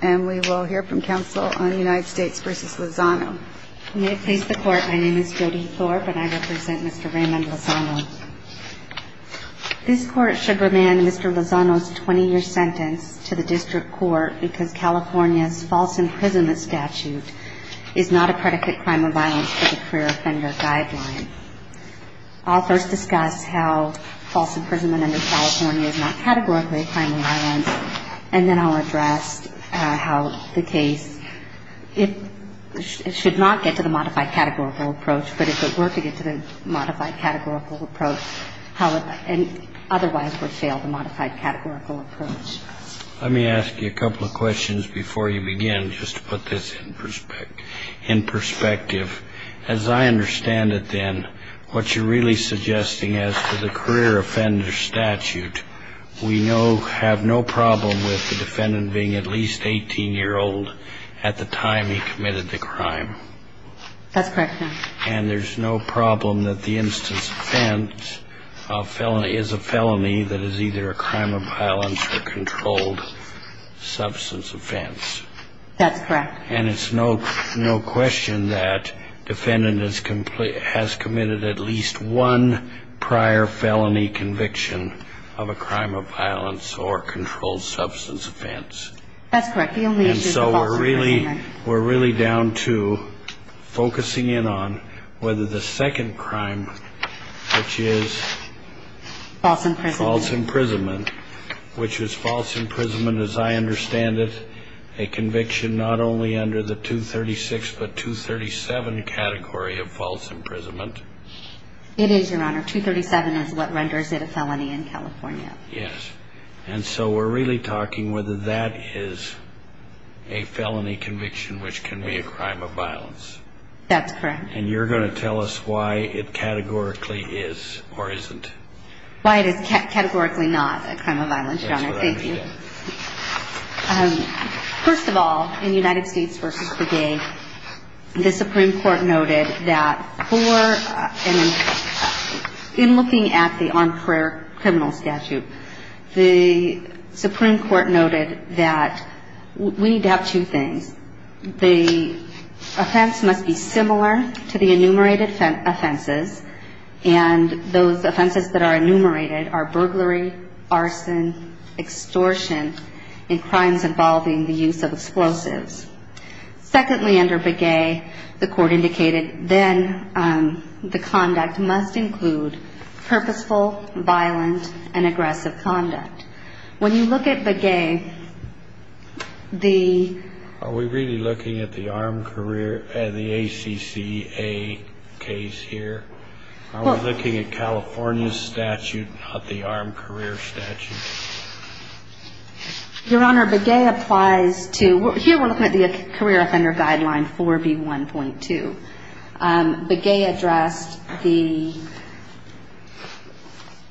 May it please the Court, my name is Jody Thorpe and I represent Mr. Raymond Lozano. This Court should remand Mr. Lozano's 20-year sentence to the District Court because California's false imprisonment statute is not a predicate crime of violence for the career offender guideline. I'll first discuss how false imprisonment under California is not categorically a crime of violence, and then I'll address a number of other issues. I'll also discuss how the case, it should not get to the modified categorical approach, but if it were to get to the modified categorical approach, otherwise would fail the modified categorical approach. Let me ask you a couple of questions before you begin, just to put this in perspective. As I understand it then, what you're really suggesting as to the career offender statute, we know have no problem with the defendant being at least 18 years old. At the time he committed the crime. That's correct. And there's no problem that the instance of offense is a felony that is either a crime of violence or controlled substance offense. That's correct. And it's no question that the defendant has committed at least one prior felony conviction of a crime of violence or controlled substance offense. That's correct. And so we're really down to focusing in on whether the second crime, which is false imprisonment, which is false imprisonment as I understand it, a conviction not only under the 236 but 237 category of false imprisonment. It is, Your Honor. 237 is what renders it a felony in California. Yes. And so we're really talking whether that is a felony conviction which can be a crime of violence. That's correct. And you're going to tell us why it categorically is or isn't. Why it is categorically not a crime of violence, Your Honor. Thank you. That's what I understand. First of all, in United States v. Breguet, the Supreme Court noted that for, in looking at the armed prayer criminal statute, the Supreme Court noted that we need to have two things. The offense must be similar to the enumerated offenses, and those offenses that are enumerated are burglary, arson, extortion, and crimes involving the use of explosives. Secondly, under Breguet, the court indicated then the conduct must include purposeful, violent, and aggressive conduct. When you look at Breguet, the – Are we really looking at the armed career – the ACCA case here? Are we looking at California's statute, not the armed career statute? Your Honor, Breguet applies to – here we're looking at the career offender guideline 4B1.2. Breguet addressed the –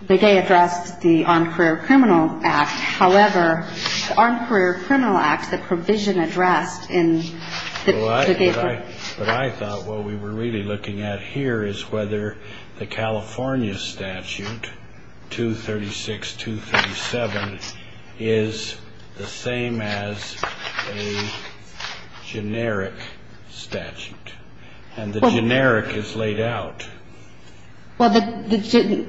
Breguet addressed the armed career criminal act. However, the armed career criminal act, the provision addressed in the – But I thought what we were really looking at here is whether the California statute, 236.237, is the same as a generic statute. And the generic is laid out. Well, the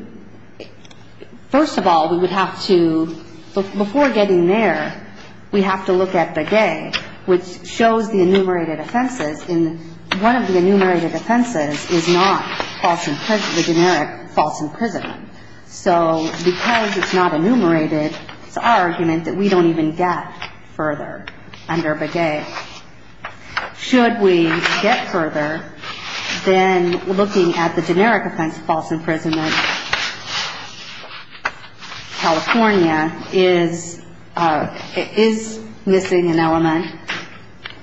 – first of all, we would have to – before getting there, we have to look at Breguet, which shows the enumerated offenses. And one of the enumerated offenses is not false – the generic false imprisonment. So because it's not enumerated, it's our argument that we don't even get further under Breguet. So should we get further than looking at the generic offense of false imprisonment, California is – is missing an element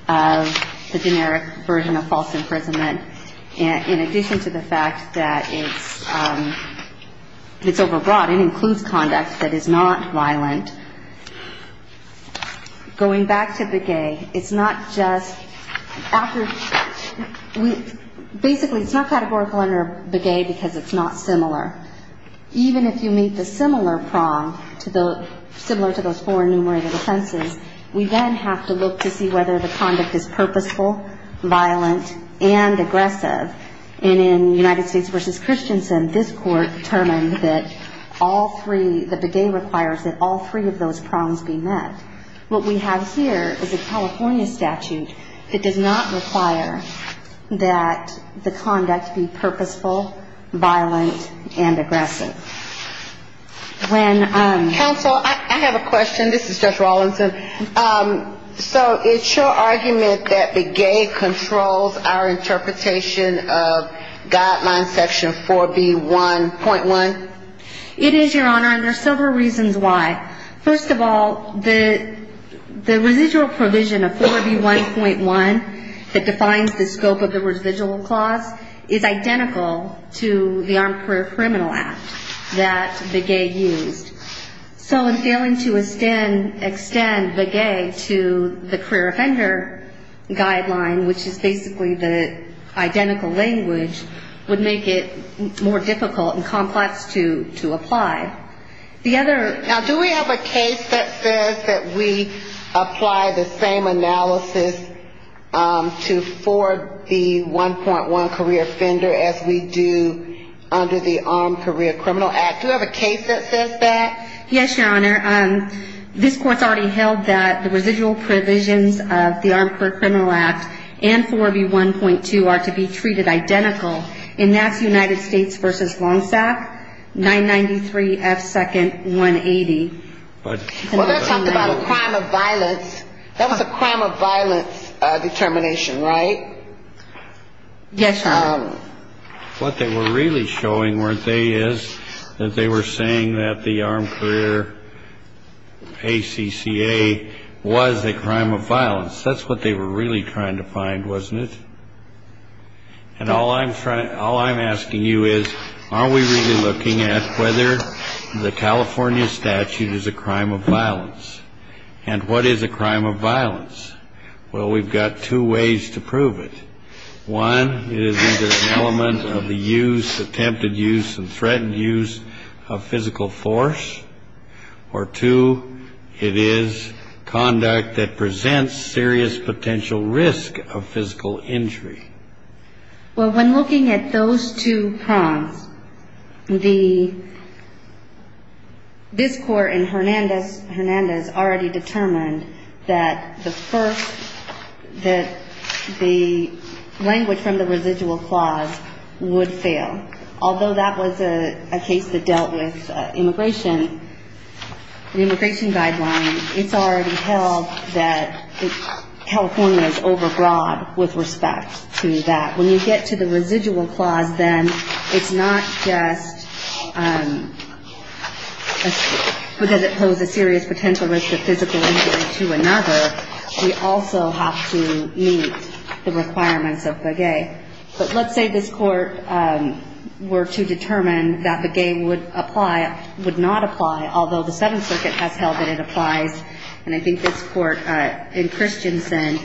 of the generic version of false imprisonment, in addition to the fact that it's – it's overbroad. It includes conduct that is not violent. Going back to Breguet, it's not just – after – we – basically, it's not categorical under Breguet because it's not similar. Even if you meet the similar prong to the – similar to those four enumerated offenses, we then have to look to see whether the conduct is purposeful, violent, and aggressive. And in United States v. Christensen, this court determined that all three – that Breguet requires that all three of those prongs be met. What we have here is a California statute that does not require that the conduct be purposeful, violent, and aggressive. When – Counsel, I have a question. This is Judge Rawlinson. So it's your argument that Breguet controls our interpretation of guideline section 4B1.1? It is, Your Honor, and there are several reasons why. First of all, the – the residual provision of 4B1.1 that defines the scope of the residual clause is identical to the Armed Career Criminal Act that Breguet used. So in failing to extend – extend Breguet to the career offender guideline, which is basically the identical language, would make it more difficult and complex to – to apply. Now, do we have a case that says that we apply the same analysis to 4B1.1 career offender as we do under the Armed Career Criminal Act? Do we have a case that says that? Yes, Your Honor. This court's already held that the residual provisions of the Armed Career Criminal Act and 4B1.2 are to be treated identical. And that's United States v. Longstaff, 993 F. 2nd, 180. But – Well, that talked about a crime of violence. That was a crime of violence determination, right? Yes, Your Honor. What they were really showing, weren't they, is that they were saying that the Armed Career ACCA was a crime of violence. That's what they were really trying to find, wasn't it? And all I'm – all I'm asking you is, are we really looking at whether the California statute is a crime of violence? And what is a crime of violence? Well, we've got two ways to prove it. One, it is either an element of the use, attempted use, and threatened use of physical force. Or two, it is conduct that presents serious potential risk of physical injury. Well, when looking at those two prongs, the – this court in Hernandez already determined that the first – that the language from the residual clause would fail. Although that was a case that dealt with immigration, the immigration guideline, it's already held that California is overbroad with respect to that. When you get to the residual clause, then, it's not just because it posed a serious potential risk of physical injury to another. We also have to meet the requirements of Breguet. But let's say this court were to determine that Breguet would apply – would not apply, although the Seventh Circuit has held that it applies. And I think this court in Christensen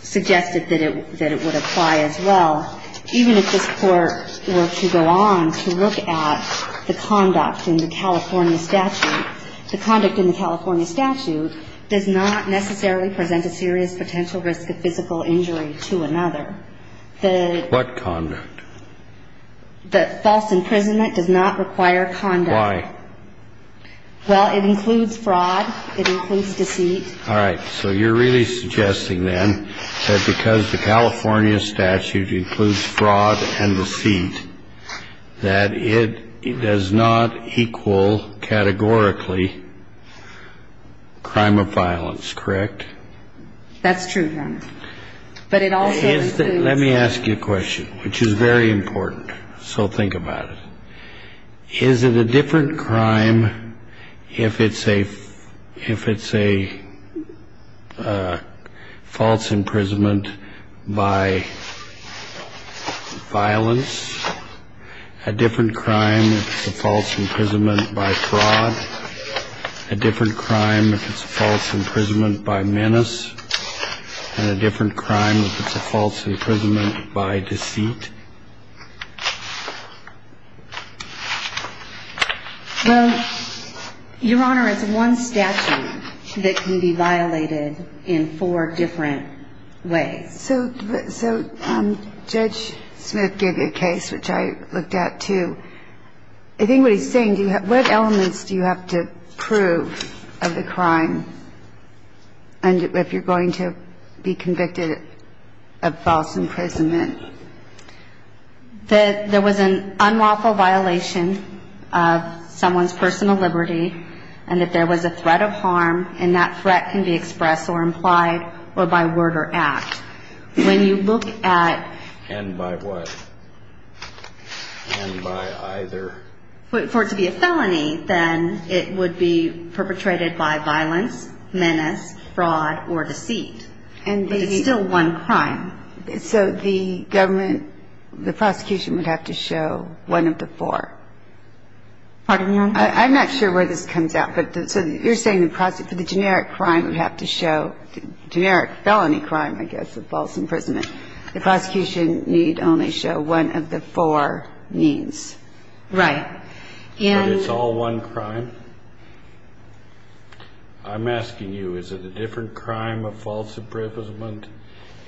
suggested that it would apply as well. Even if this court were to go on to look at the conduct in the California statute, the conduct in the California statute does not necessarily present a serious potential risk of physical injury to another. The – What conduct? The false imprisonment does not require conduct. Why? Well, it includes fraud. It includes deceit. All right. So you're really suggesting, then, that because the California statute includes fraud and deceit, that it does not equal categorically crime of violence, correct? That's true, Your Honor. But it also includes – Let me ask you a question, which is very important. So think about it. Is it a different crime if it's a – if it's a false imprisonment by violence? A different crime if it's a false imprisonment by fraud? A different crime if it's a false imprisonment by menace? And a different crime if it's a false imprisonment by deceit? Well, Your Honor, it's one statute that can be violated in four different ways. So Judge Smith gave you a case, which I looked at, too. I think what he's saying, what elements do you have to prove of the crime? And if you're going to be convicted of false imprisonment. That there was an unlawful violation of someone's personal liberty, and that there was a threat of harm, and that threat can be expressed or implied or by word or act. When you look at – And by what? And by either? For it to be a felony, then it would be perpetrated by violence, menace, fraud, or deceit. But it's still one crime. So the government – the prosecution would have to show one of the four. Pardon me, Your Honor? I'm not sure where this comes out. But so you're saying the generic crime would have to show – generic felony crime, I guess, of false imprisonment. The prosecution need only show one of the four means. Right. But it's all one crime? I'm asking you, is it a different crime of false imprisonment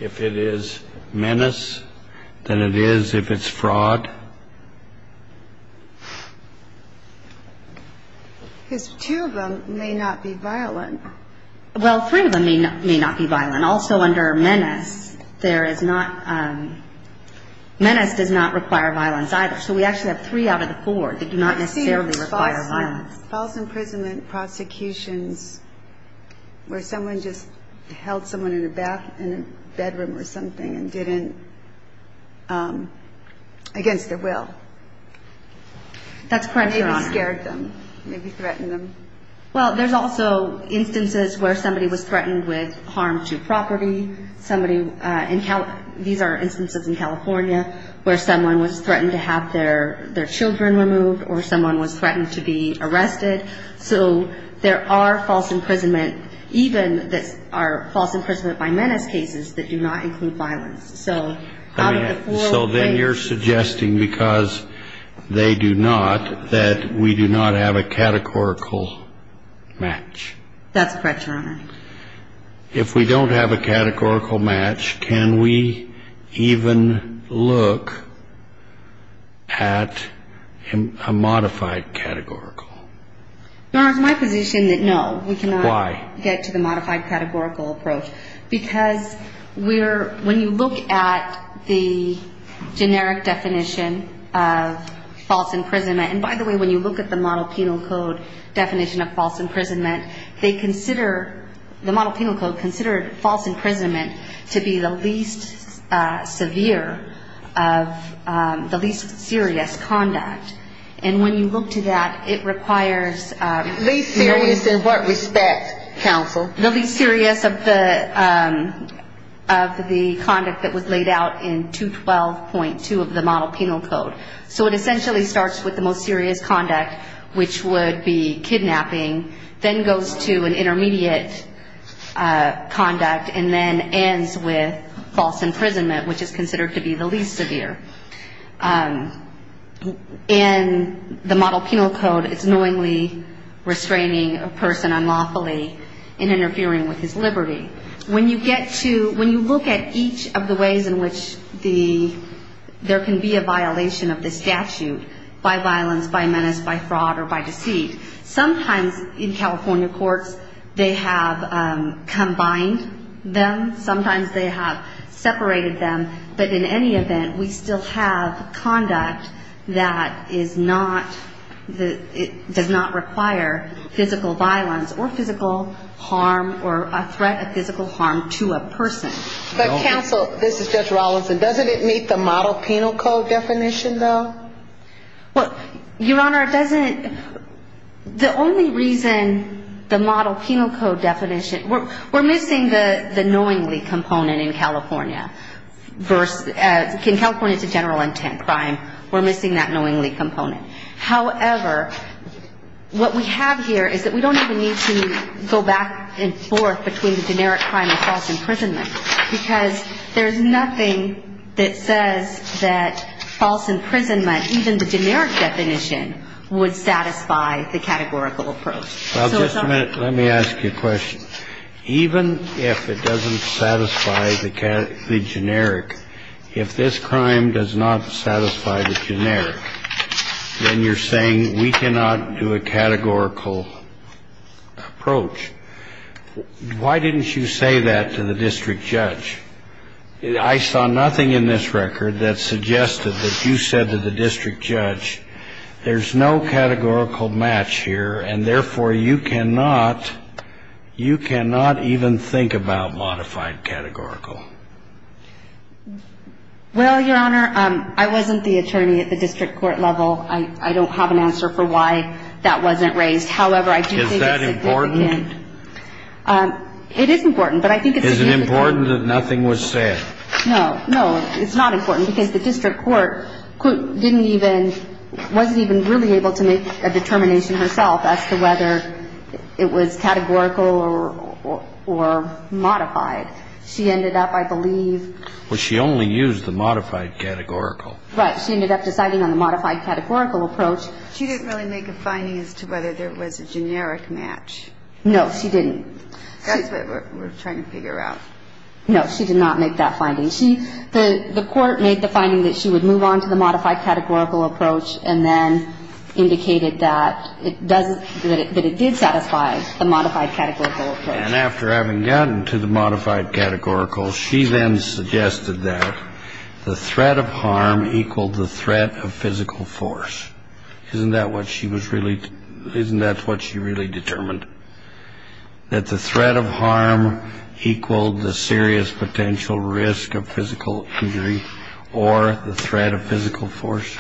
if it is menace than it is if it's fraud? Because two of them may not be violent. Well, three of them may not be violent. Also, under menace, there is not – menace does not require violence either. So we actually have three out of the four that do not necessarily require violence. I've seen false imprisonment prosecutions where someone just held someone in a bathroom or something and didn't – against their will. That's correct, Your Honor. Maybe scared them. Maybe threatened them. Well, there's also instances where somebody was threatened with harm to property. These are instances in California where someone was threatened to have their children removed or someone was threatened to be arrested. So there are false imprisonment – even that are false imprisonment by menace cases that do not include violence. So out of the four – So then you're suggesting because they do not that we do not have a categorical match. That's correct, Your Honor. If we don't have a categorical match, can we even look at a modified categorical? Your Honor, it's my position that no. Why? We cannot get to the modified categorical approach. Because we're – when you look at the generic definition of false imprisonment – and by the way, when you look at the model penal code definition of false imprisonment, they consider – the model penal code considered false imprisonment to be the least severe of – the least serious conduct. And when you look to that, it requires – Least serious in what respect, counsel? The least serious of the conduct that was laid out in 212.2 of the model penal code. So it essentially starts with the most serious conduct, which would be kidnapping, then goes to an intermediate conduct, and then ends with false imprisonment, which is considered to be the least severe. In the model penal code, it's knowingly restraining a person unlawfully in interfering with his liberty. When you get to – when you look at each of the ways in which the – there can be a violation of the statute by violence, by menace, by fraud, or by deceit, sometimes in California courts, they have combined them. But counsel – this is Judge Rawlinson – doesn't it meet the model penal code definition, though? Well, Your Honor, it doesn't – the only reason the model penal code definition – we're missing the knowingly component in California. In California, it's a general intent crime. We're missing that knowingly component. However, what we have here is that we don't even need to go back and forth between the generic crime and false imprisonment, because there's nothing that says that false imprisonment, even the generic definition, would satisfy the categorical approach. So it's our – Well, just a minute. Let me ask you a question. Even if it doesn't satisfy the generic, if this crime does not satisfy the generic, then you're saying we cannot do a categorical approach. Why didn't you say that to the district judge? I saw nothing in this record that suggested that you said to the district judge, there's no categorical match here, and therefore you cannot – you cannot even think about modified categorical. Well, Your Honor, I wasn't the attorney at the district court level. I don't have an answer for why that wasn't raised. However, I do think it's significant. Is that important? It is important, but I think it's significant. Is it important that nothing was said? No. No, it's not important, because the district court didn't even – wasn't even really able to make a determination herself as to whether it was categorical or modified. She ended up, I believe – Well, she only used the modified categorical. Right. She ended up deciding on the modified categorical approach. She didn't really make a finding as to whether there was a generic match. No, she didn't. That's what we're trying to figure out. No, she did not make that finding. She – the court made the finding that she would move on to the modified categorical approach and then indicated that it doesn't – that it did satisfy the modified categorical approach. And after having gotten to the modified categorical, she then suggested that the threat of harm equaled the threat of physical force. Isn't that what she was really – isn't that what she really determined? That the threat of harm equaled the serious potential risk of physical injury or the threat of physical force?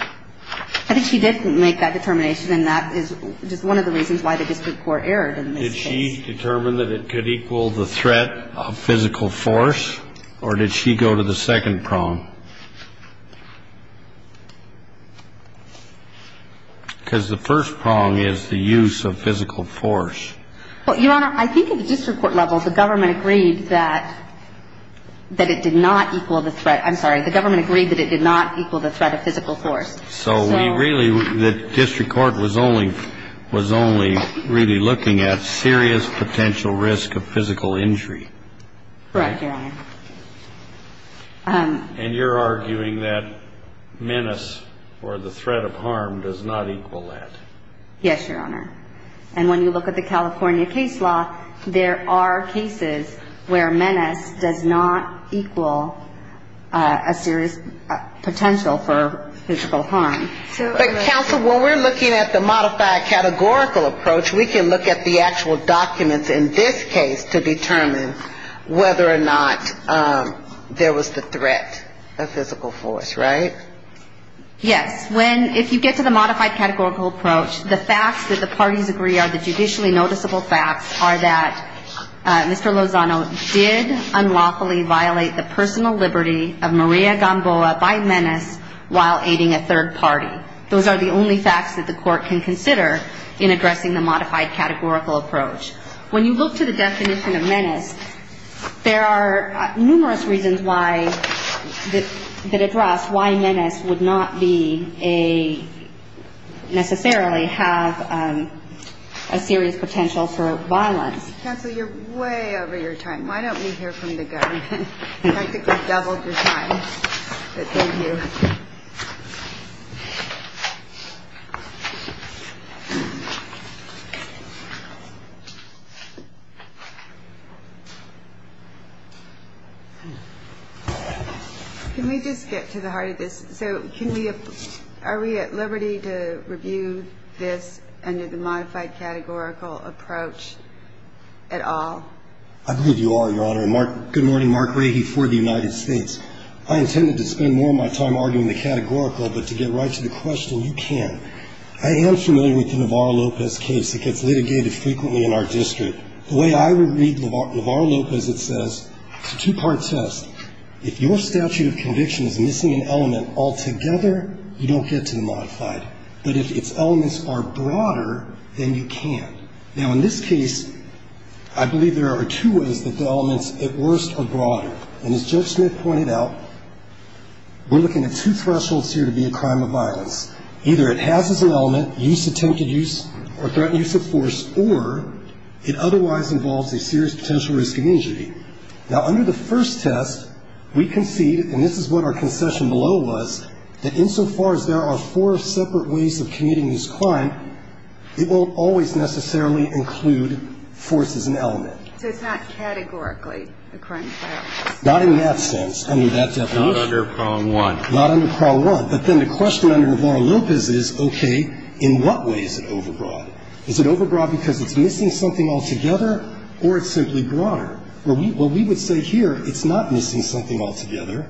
I think she did make that determination, and that is just one of the reasons why the district court erred in this case. Did she determine that it could equal the threat of physical force, or did she go to the second prong? Because the first prong is the use of physical force. Well, Your Honor, I think at the district court level, the government agreed that – that it did not equal the threat – I'm sorry, the government agreed that it did not equal the threat of physical force. So we really – the district court was only – was only really looking at serious potential risk of physical injury. Correct, Your Honor. And you're arguing that menace or the threat of harm does not equal that. Yes, Your Honor. And when you look at the California case law, there are cases where menace does not equal a serious potential for physical harm. But, counsel, when we're looking at the modified categorical approach, we can look at the actual documents in this case to determine whether or not there was the threat of physical force, right? Yes. When – if you get to the modified categorical approach, the facts that the parties agree are the judicially noticeable facts are that Mr. Lozano did unlawfully violate the personal liberty of Maria Gamboa by menace while aiding a third party. Those are the only facts that the court can consider in addressing the modified categorical approach. When you look to the definition of menace, there are numerous reasons why – that address why menace would not be a – necessarily have a serious potential for violence. Counsel, you're way over your time. Why don't we hear from the government? Practically doubled your time. But thank you. Can we just get to the heart of this? So can we – are we at liberty to review this under the modified categorical approach at all? I believe you are, Your Honor. And Mark – good morning. Mark Rahe for the United States. I intended to spend more of my time arguing the categorical, but to get right to the question, you can. I am familiar with the Navarro-Lopez case that gets litigated frequently in our district. The way I would read Navarro-Lopez, it says – it's a two-part test. If your statute of conviction is missing an element altogether, you don't get to the modified. But if its elements are broader, then you can. Now, in this case, I believe there are two ways that the elements, at worst, are broader. And as Judge Smith pointed out, we're looking at two thresholds here to be a crime of violence. Either it has as an element attempted use or threatened use of force, or it otherwise involves a serious potential risk of injury. Now, under the first test, we concede, and this is what our concession below was, that insofar as there are four separate ways of committing this crime, it won't always necessarily include force as an element. So it's not categorically a crime of violence? Not in that sense, under that definition. Not under Carl I. Not under Carl I. But then the question under Navarro-Lopez is, okay, in what way is it overbroad? Is it overbroad because it's missing something altogether, or it's simply broader? Well, we would say here it's not missing something altogether.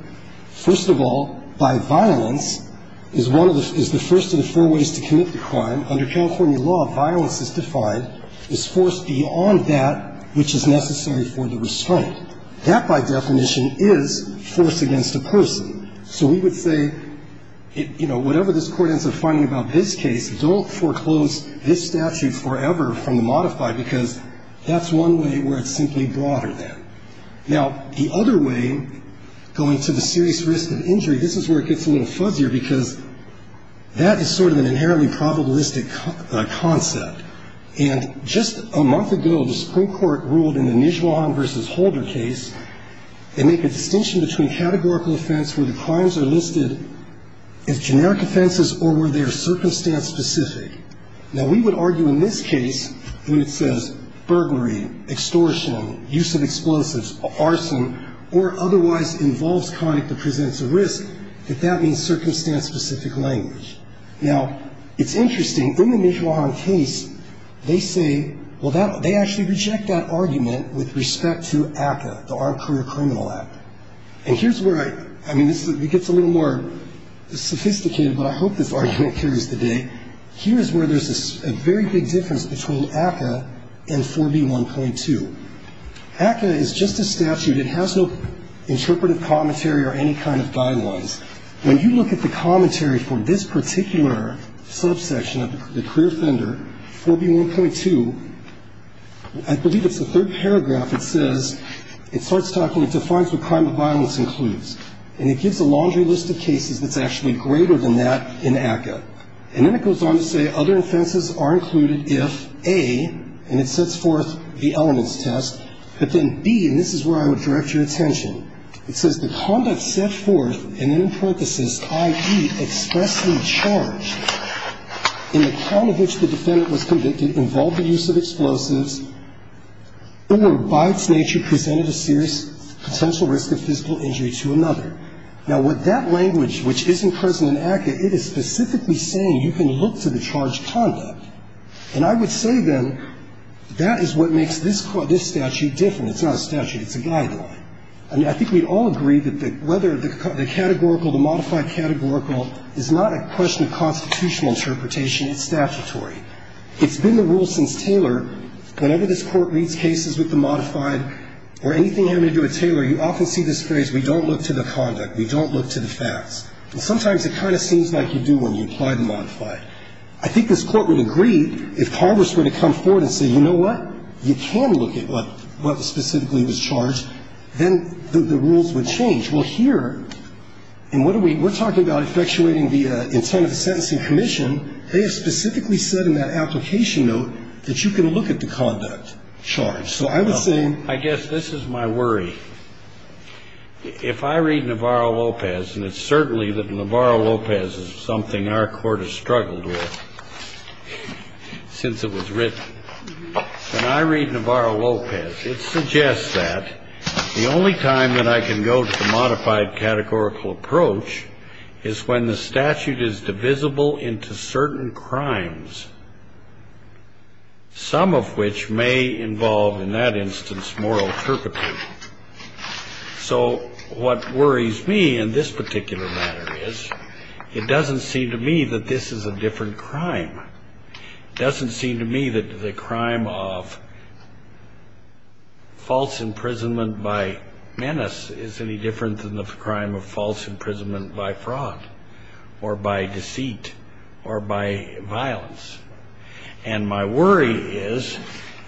First of all, by violence is one of the – is the first of the four ways to commit the crime. Under California law, violence is defined as force beyond that which is necessary for the restraint. That, by definition, is force against a person. So we would say, you know, whatever this Court ends up finding about this case, don't foreclose this statute forever from the modified, because that's one way where it's simply broader then. Now, the other way, going to the serious risk of injury, this is where it gets a little fuzzier because that is sort of an inherently probabilistic concept. And just a month ago, the Supreme Court ruled in the Nijuan v. Holder case, they make a distinction between categorical offense where the crimes are listed as generic offenses or where they are circumstance-specific. Now, we would argue in this case, when it says burglary, extortion, use of explosives, arson, or otherwise involves conduct that presents a risk, that that means circumstance-specific language. Now, it's interesting. In the Nijuan case, they say – well, they actually reject that argument with respect to ACCA, the Armed Career Criminal Act. And here's where I – I mean, it gets a little more sophisticated, but I hope this argument carries the day. Here's where there's a very big difference between ACCA and 4B1.2. ACCA is just a statute. It has no interpretive commentary or any kind of guidelines. When you look at the commentary for this particular subsection of the career offender, 4B1.2, I believe it's the third paragraph that says – it starts talking – it defines what crime of violence includes. And it gives a laundry list of cases that's actually greater than that in ACCA. And then it goes on to say other offenses are included if, A, and it sets forth the elements test, but then, B, and this is where I would direct your attention, it says, the conduct set forth, and then in parenthesis, i.e., expressly charged, in the crime of which the defendant was convicted involved the use of explosives or by its nature presented a serious potential risk of physical injury to another. Now, with that language, which isn't present in ACCA, it is specifically saying you can look to the charged conduct. And I would say, then, that is what makes this statute different. It's not a statute. It's a guideline. I mean, I think we'd all agree that whether the categorical, the modified categorical, is not a question of constitutional interpretation. It's statutory. It's been the rule since Taylor, whenever this Court reads cases with the modified or anything having to do with Taylor, you often see this phrase, we don't look to the conduct, we don't look to the facts. And sometimes it kind of seems like you do when you apply the modified. I think this Court would agree, if Congress were to come forward and say, you know what, you can look at what specifically was charged, then the rules would change. Well, here, and what are we we're talking about effectuating the intent of the sentencing commission. They have specifically said in that application note that you can look at the conduct charge. So I would say. I guess this is my worry. If I read Navarro-Lopez, and it's certainly that Navarro-Lopez is something our Court has struggled with since it was written. When I read Navarro-Lopez, it suggests that the only time that I can go to the modified categorical approach is when the statute is divisible into certain crimes, some of which may involve, in that instance, moral turpitude. So what worries me in this particular matter is it doesn't seem to me that this is a different crime. It doesn't seem to me that the crime of false imprisonment by menace is any different than the crime of false imprisonment by fraud or by deceit or by violence. And my worry is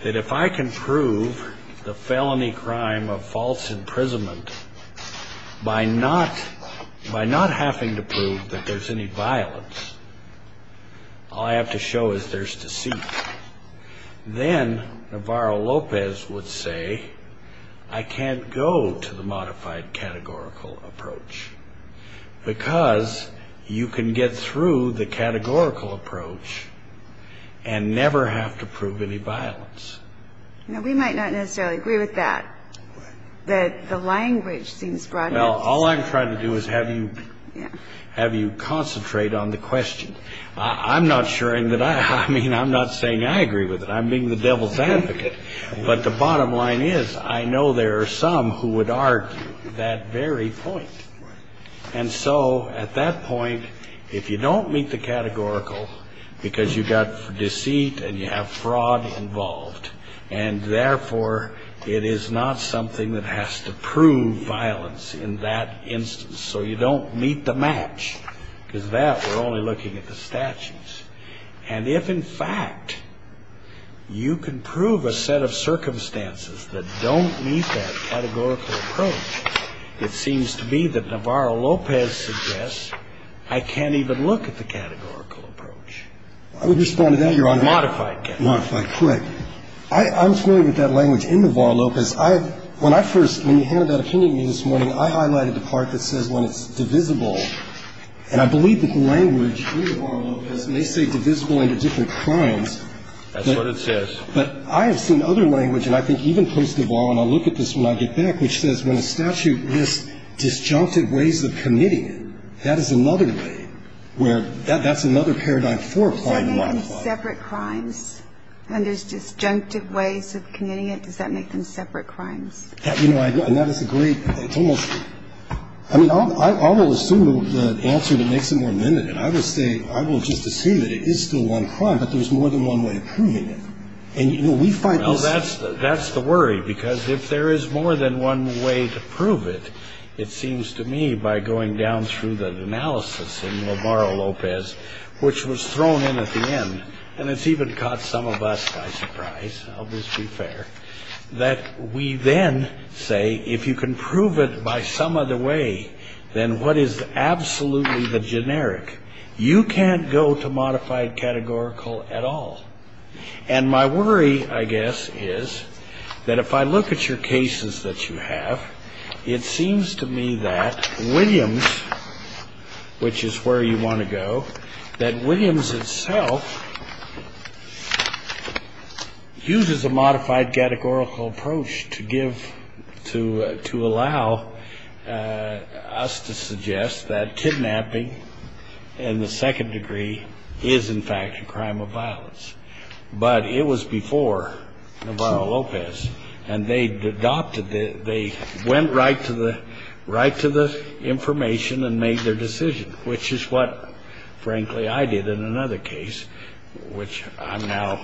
that if I can prove the felony crime of false imprisonment by not having to prove that there's any violence, all I have to show is there's deceit, then Navarro-Lopez would say I can't go to the modified categorical approach because you can get through the categorical approach and never have to prove any violence. Now, we might not necessarily agree with that, that the language seems broad enough. All I'm trying to do is have you concentrate on the question. I'm not saying I agree with it. I'm being the devil's advocate. But the bottom line is I know there are some who would argue that very point. And so at that point, if you don't meet the categorical because you've got deceit and you have to prove the felony crime of false imprisonment by not having to prove that there's any violence, you can't go to that instance. So you don't meet the match, because that we're only looking at the statutes. And if, in fact, you can prove a set of circumstances that don't meet that categorical approach, it seems to me that Navarro-Lopez suggests I can't even look at the categorical part that says when it's divisible. And I believe that the language in Navarro-Lopez may say divisible into different crimes. That's what it says. But I have seen other language, and I think even post-Navarro, and I'll look at this when I get back, which says when a statute lists disjunctive ways of committing it, that is another way, where that's another paradigm for applying law. Does that make them separate crimes? When there's disjunctive ways of committing it, does that make them separate crimes? And that is a great question. I mean, I will assume the answer that makes them more limited. I will just assume that it is still one crime, but there's more than one way of proving it. And, you know, we find this. Well, that's the worry, because if there is more than one way to prove it, it seems to me by going down through the analysis in Navarro-Lopez, which was thrown in at the end, and it's even caught some of us by surprise, I'll just be fair, that we then say if you can prove it by some other way, then what is absolutely the generic? You can't go to modified categorical at all. And my worry, I guess, is that if I look at your cases that you have, it seems to me that Williams, which is where you want to go, that Williams itself uses a modified categorical approach to give, to allow us to suggest that kidnapping in the second degree is, in fact, a crime of violence. But it was before Navarro-Lopez, and they adopted, they went right to the information and made their decision, which is what, frankly, I did in another case, which I've now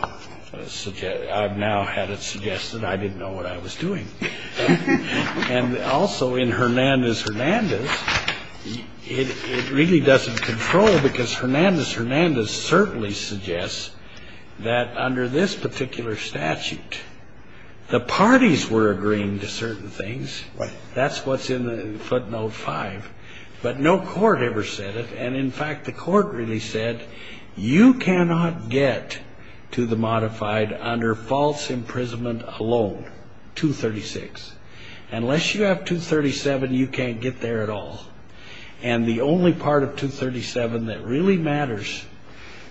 had it suggested I didn't know what I was doing. And also in Hernandez-Hernandez, it really doesn't control, because Hernandez-Hernandez certainly suggests that under this particular statute, the parties were agreeing to certain things. Right. That's what's in footnote 5. But no court ever said it. And, in fact, the court really said, you cannot get to the modified under false imprisonment alone, 236. Unless you have 237, you can't get there at all. And the only part of 237 that really matters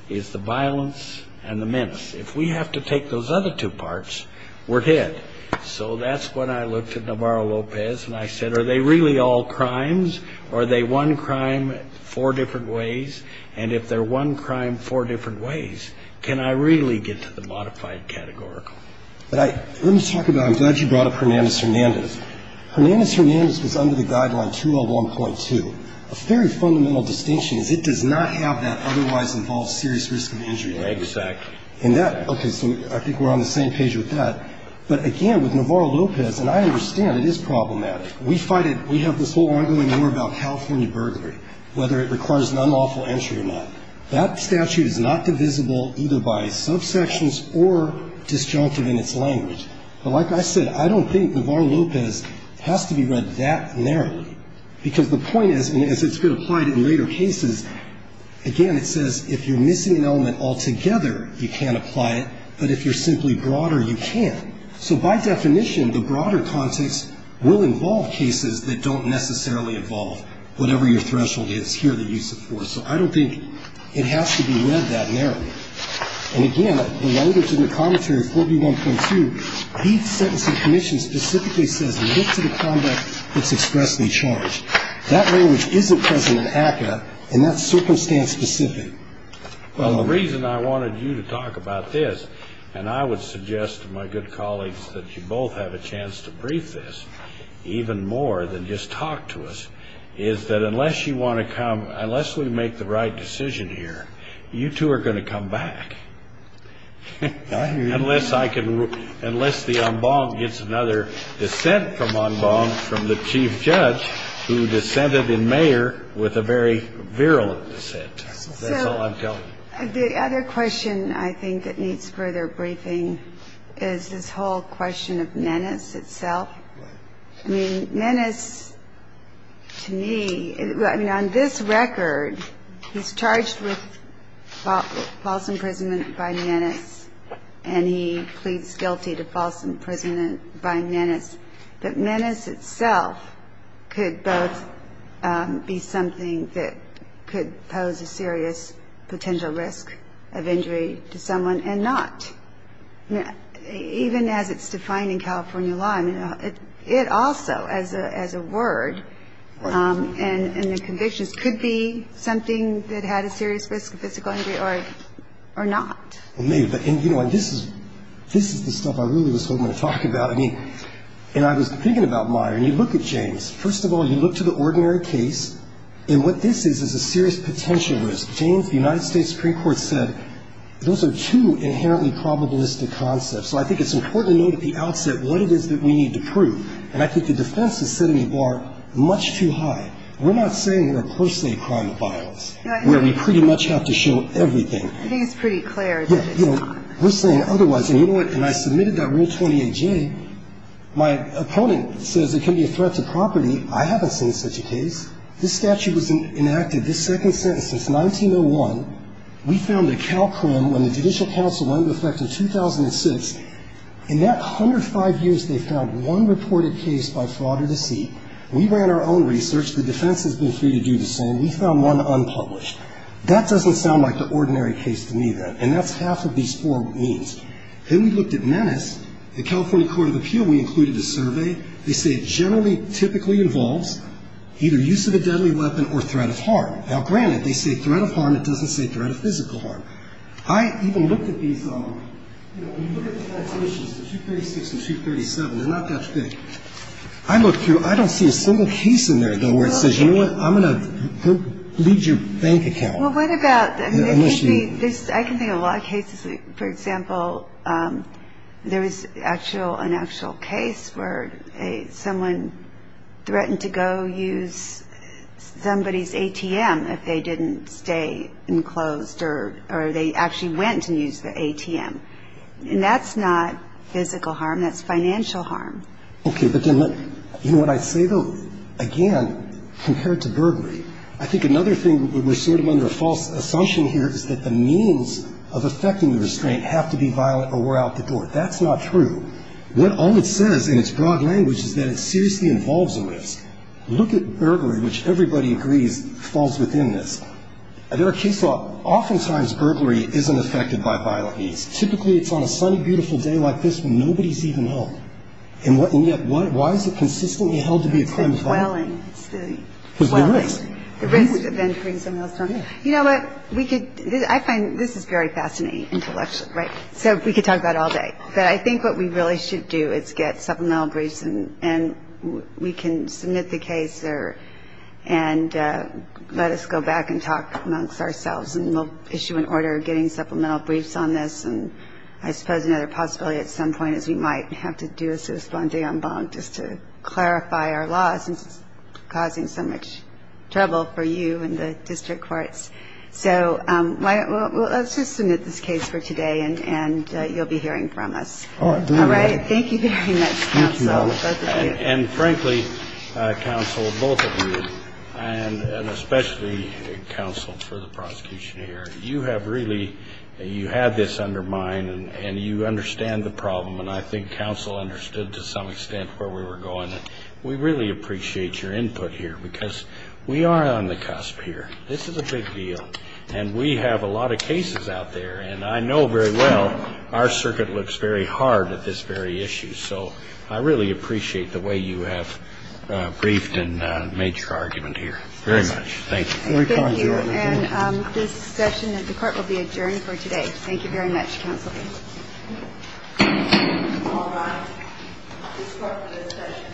is the violence and the menace. If we have to take those other two parts, we're hit. So that's when I looked at Navarro-Lopez, and I said, are they really all crimes, or are they one crime, four different ways? And if they're one crime, four different ways, can I really get to the modified categorical? Let me talk about it. I'm glad you brought up Hernandez-Hernandez. Hernandez-Hernandez was under the guideline 201.2. A very fundamental distinction is it does not have that otherwise involved serious risk of injury. Exactly. Okay. So I think we're on the same page with that. But, again, with Navarro-Lopez, and I understand it is problematic. We fight it. We have this whole ongoing war about California burglary, whether it requires an unlawful entry or not. That statute is not divisible either by subsections or disjunctive in its language. But like I said, I don't think Navarro-Lopez has to be read that narrowly, because the point is, and as it's been applied in later cases, again, it says if you're missing an element altogether, you can't apply it, but if you're simply broader, you can. So by definition, the broader context will involve cases that don't necessarily involve whatever your threshold is here that you support. So I don't think it has to be read that narrowly. And, again, the language in the commentary, 4B1.2, the sentencing commission specifically says, look to the conduct that's expressly charged. That language isn't present in ACCA, and that's circumstance specific. Well, the reason I wanted you to talk about this, and I would suggest to my good colleagues that you both have a chance to brief this even more than just talk to us, is that unless you want to come, unless we make the right decision here, you two are going to come back. I hear you. Unless the en banc gets another dissent from en banc from the chief judge who dissented in mayor with a very virulent dissent. That's all I'm telling you. So the other question I think that needs further briefing is this whole question of menace itself. I mean, menace to me, I mean, on this record, he's charged with false imprisonment by menace, and he pleads guilty to false imprisonment by menace. And so the question is, is that menace itself could both be something that could pose a serious potential risk of injury to someone and not? Even as it's defined in California law, I mean, it also, as a word, and the convictions could be something that had a serious risk of physical injury or not. Well, maybe. And this is the stuff I really was hoping to talk about. I mean, and I was thinking about Meyer, and you look at James. First of all, you look to the ordinary case, and what this is is a serious potential risk. James, the United States Supreme Court said those are two inherently probabilistic concepts. So I think it's important to note at the outset what it is that we need to prove. And I think the defense is setting the bar much too high. We're not saying they're per se a crime of violence, where we pretty much have to show everything. I think it's pretty clear that it's not. Yeah. You know, we're saying otherwise. And you know what? When I submitted that Rule 28J, my opponent says it can be a threat to property. I haven't seen such a case. This statute was enacted, this second sentence, since 1901. We found that Calcrim, when the Judicial Council went into effect in 2006, in that 105 years, they found one reported case by fraud or deceit. We ran our own research. The defense has been free to do the same. We found one unpublished. That doesn't sound like the ordinary case to me, though. And that's half of these four means. Then we looked at menace. The California Court of Appeal, we included a survey. They say it generally typically involves either use of a deadly weapon or threat of harm. Now, granted, they say threat of harm. It doesn't say threat of physical harm. I even looked at these. You know, when you look at the annotations, the 236 and 237, they're not that big. I looked through. I don't see a single case in there, though, where it says, you know what, I'm going to leave your bank account. Well, what about, I mean, there could be a lot of cases. For example, there was an actual case where someone threatened to go use somebody's ATM if they didn't stay enclosed or they actually went and used the ATM. And that's not physical harm. That's financial harm. Okay. You know, what I say, though, again, compared to burglary, I think another thing where we're sort of under a false assumption here is that the means of affecting the restraint have to be violent or were out the door. That's not true. All it says in its broad language is that it seriously involves a risk. Look at burglary, which everybody agrees falls within this. There are cases where oftentimes burglary isn't affected by violent means. Typically, it's on a sunny, beautiful day like this when nobody's even home. And yet, why is it consistently held to be a crime of violence? It's the dwelling. Because of the risk. The risk of entering someone else's home. You know what, I find this is very fascinating intellectually, right? So we could talk about it all day. But I think what we really should do is get supplemental briefs and we can submit the case and let us go back and talk amongst ourselves, and we'll issue an order getting supplemental briefs on this. And I suppose another possibility at some point is we might have to do a sous-vendée en banc just to clarify our laws, since it's causing so much trouble for you and the district courts. So let's just submit this case for today, and you'll be hearing from us. All right. Thank you very much, counsel. And frankly, counsel, both of you, and especially counsel for the prosecution here, you have really had this undermined and you understand the problem, and I think counsel understood to some extent where we were going. We really appreciate your input here, because we are on the cusp here. This is a big deal, and we have a lot of cases out there, and I know very well our circuit looks very hard at this very issue. So I really appreciate the way you have briefed and made your argument here. Very much. Thank you. Thank you. And this session of the court will be adjourned for today. Thank you very much, counsel. All right. This session is now adjourned.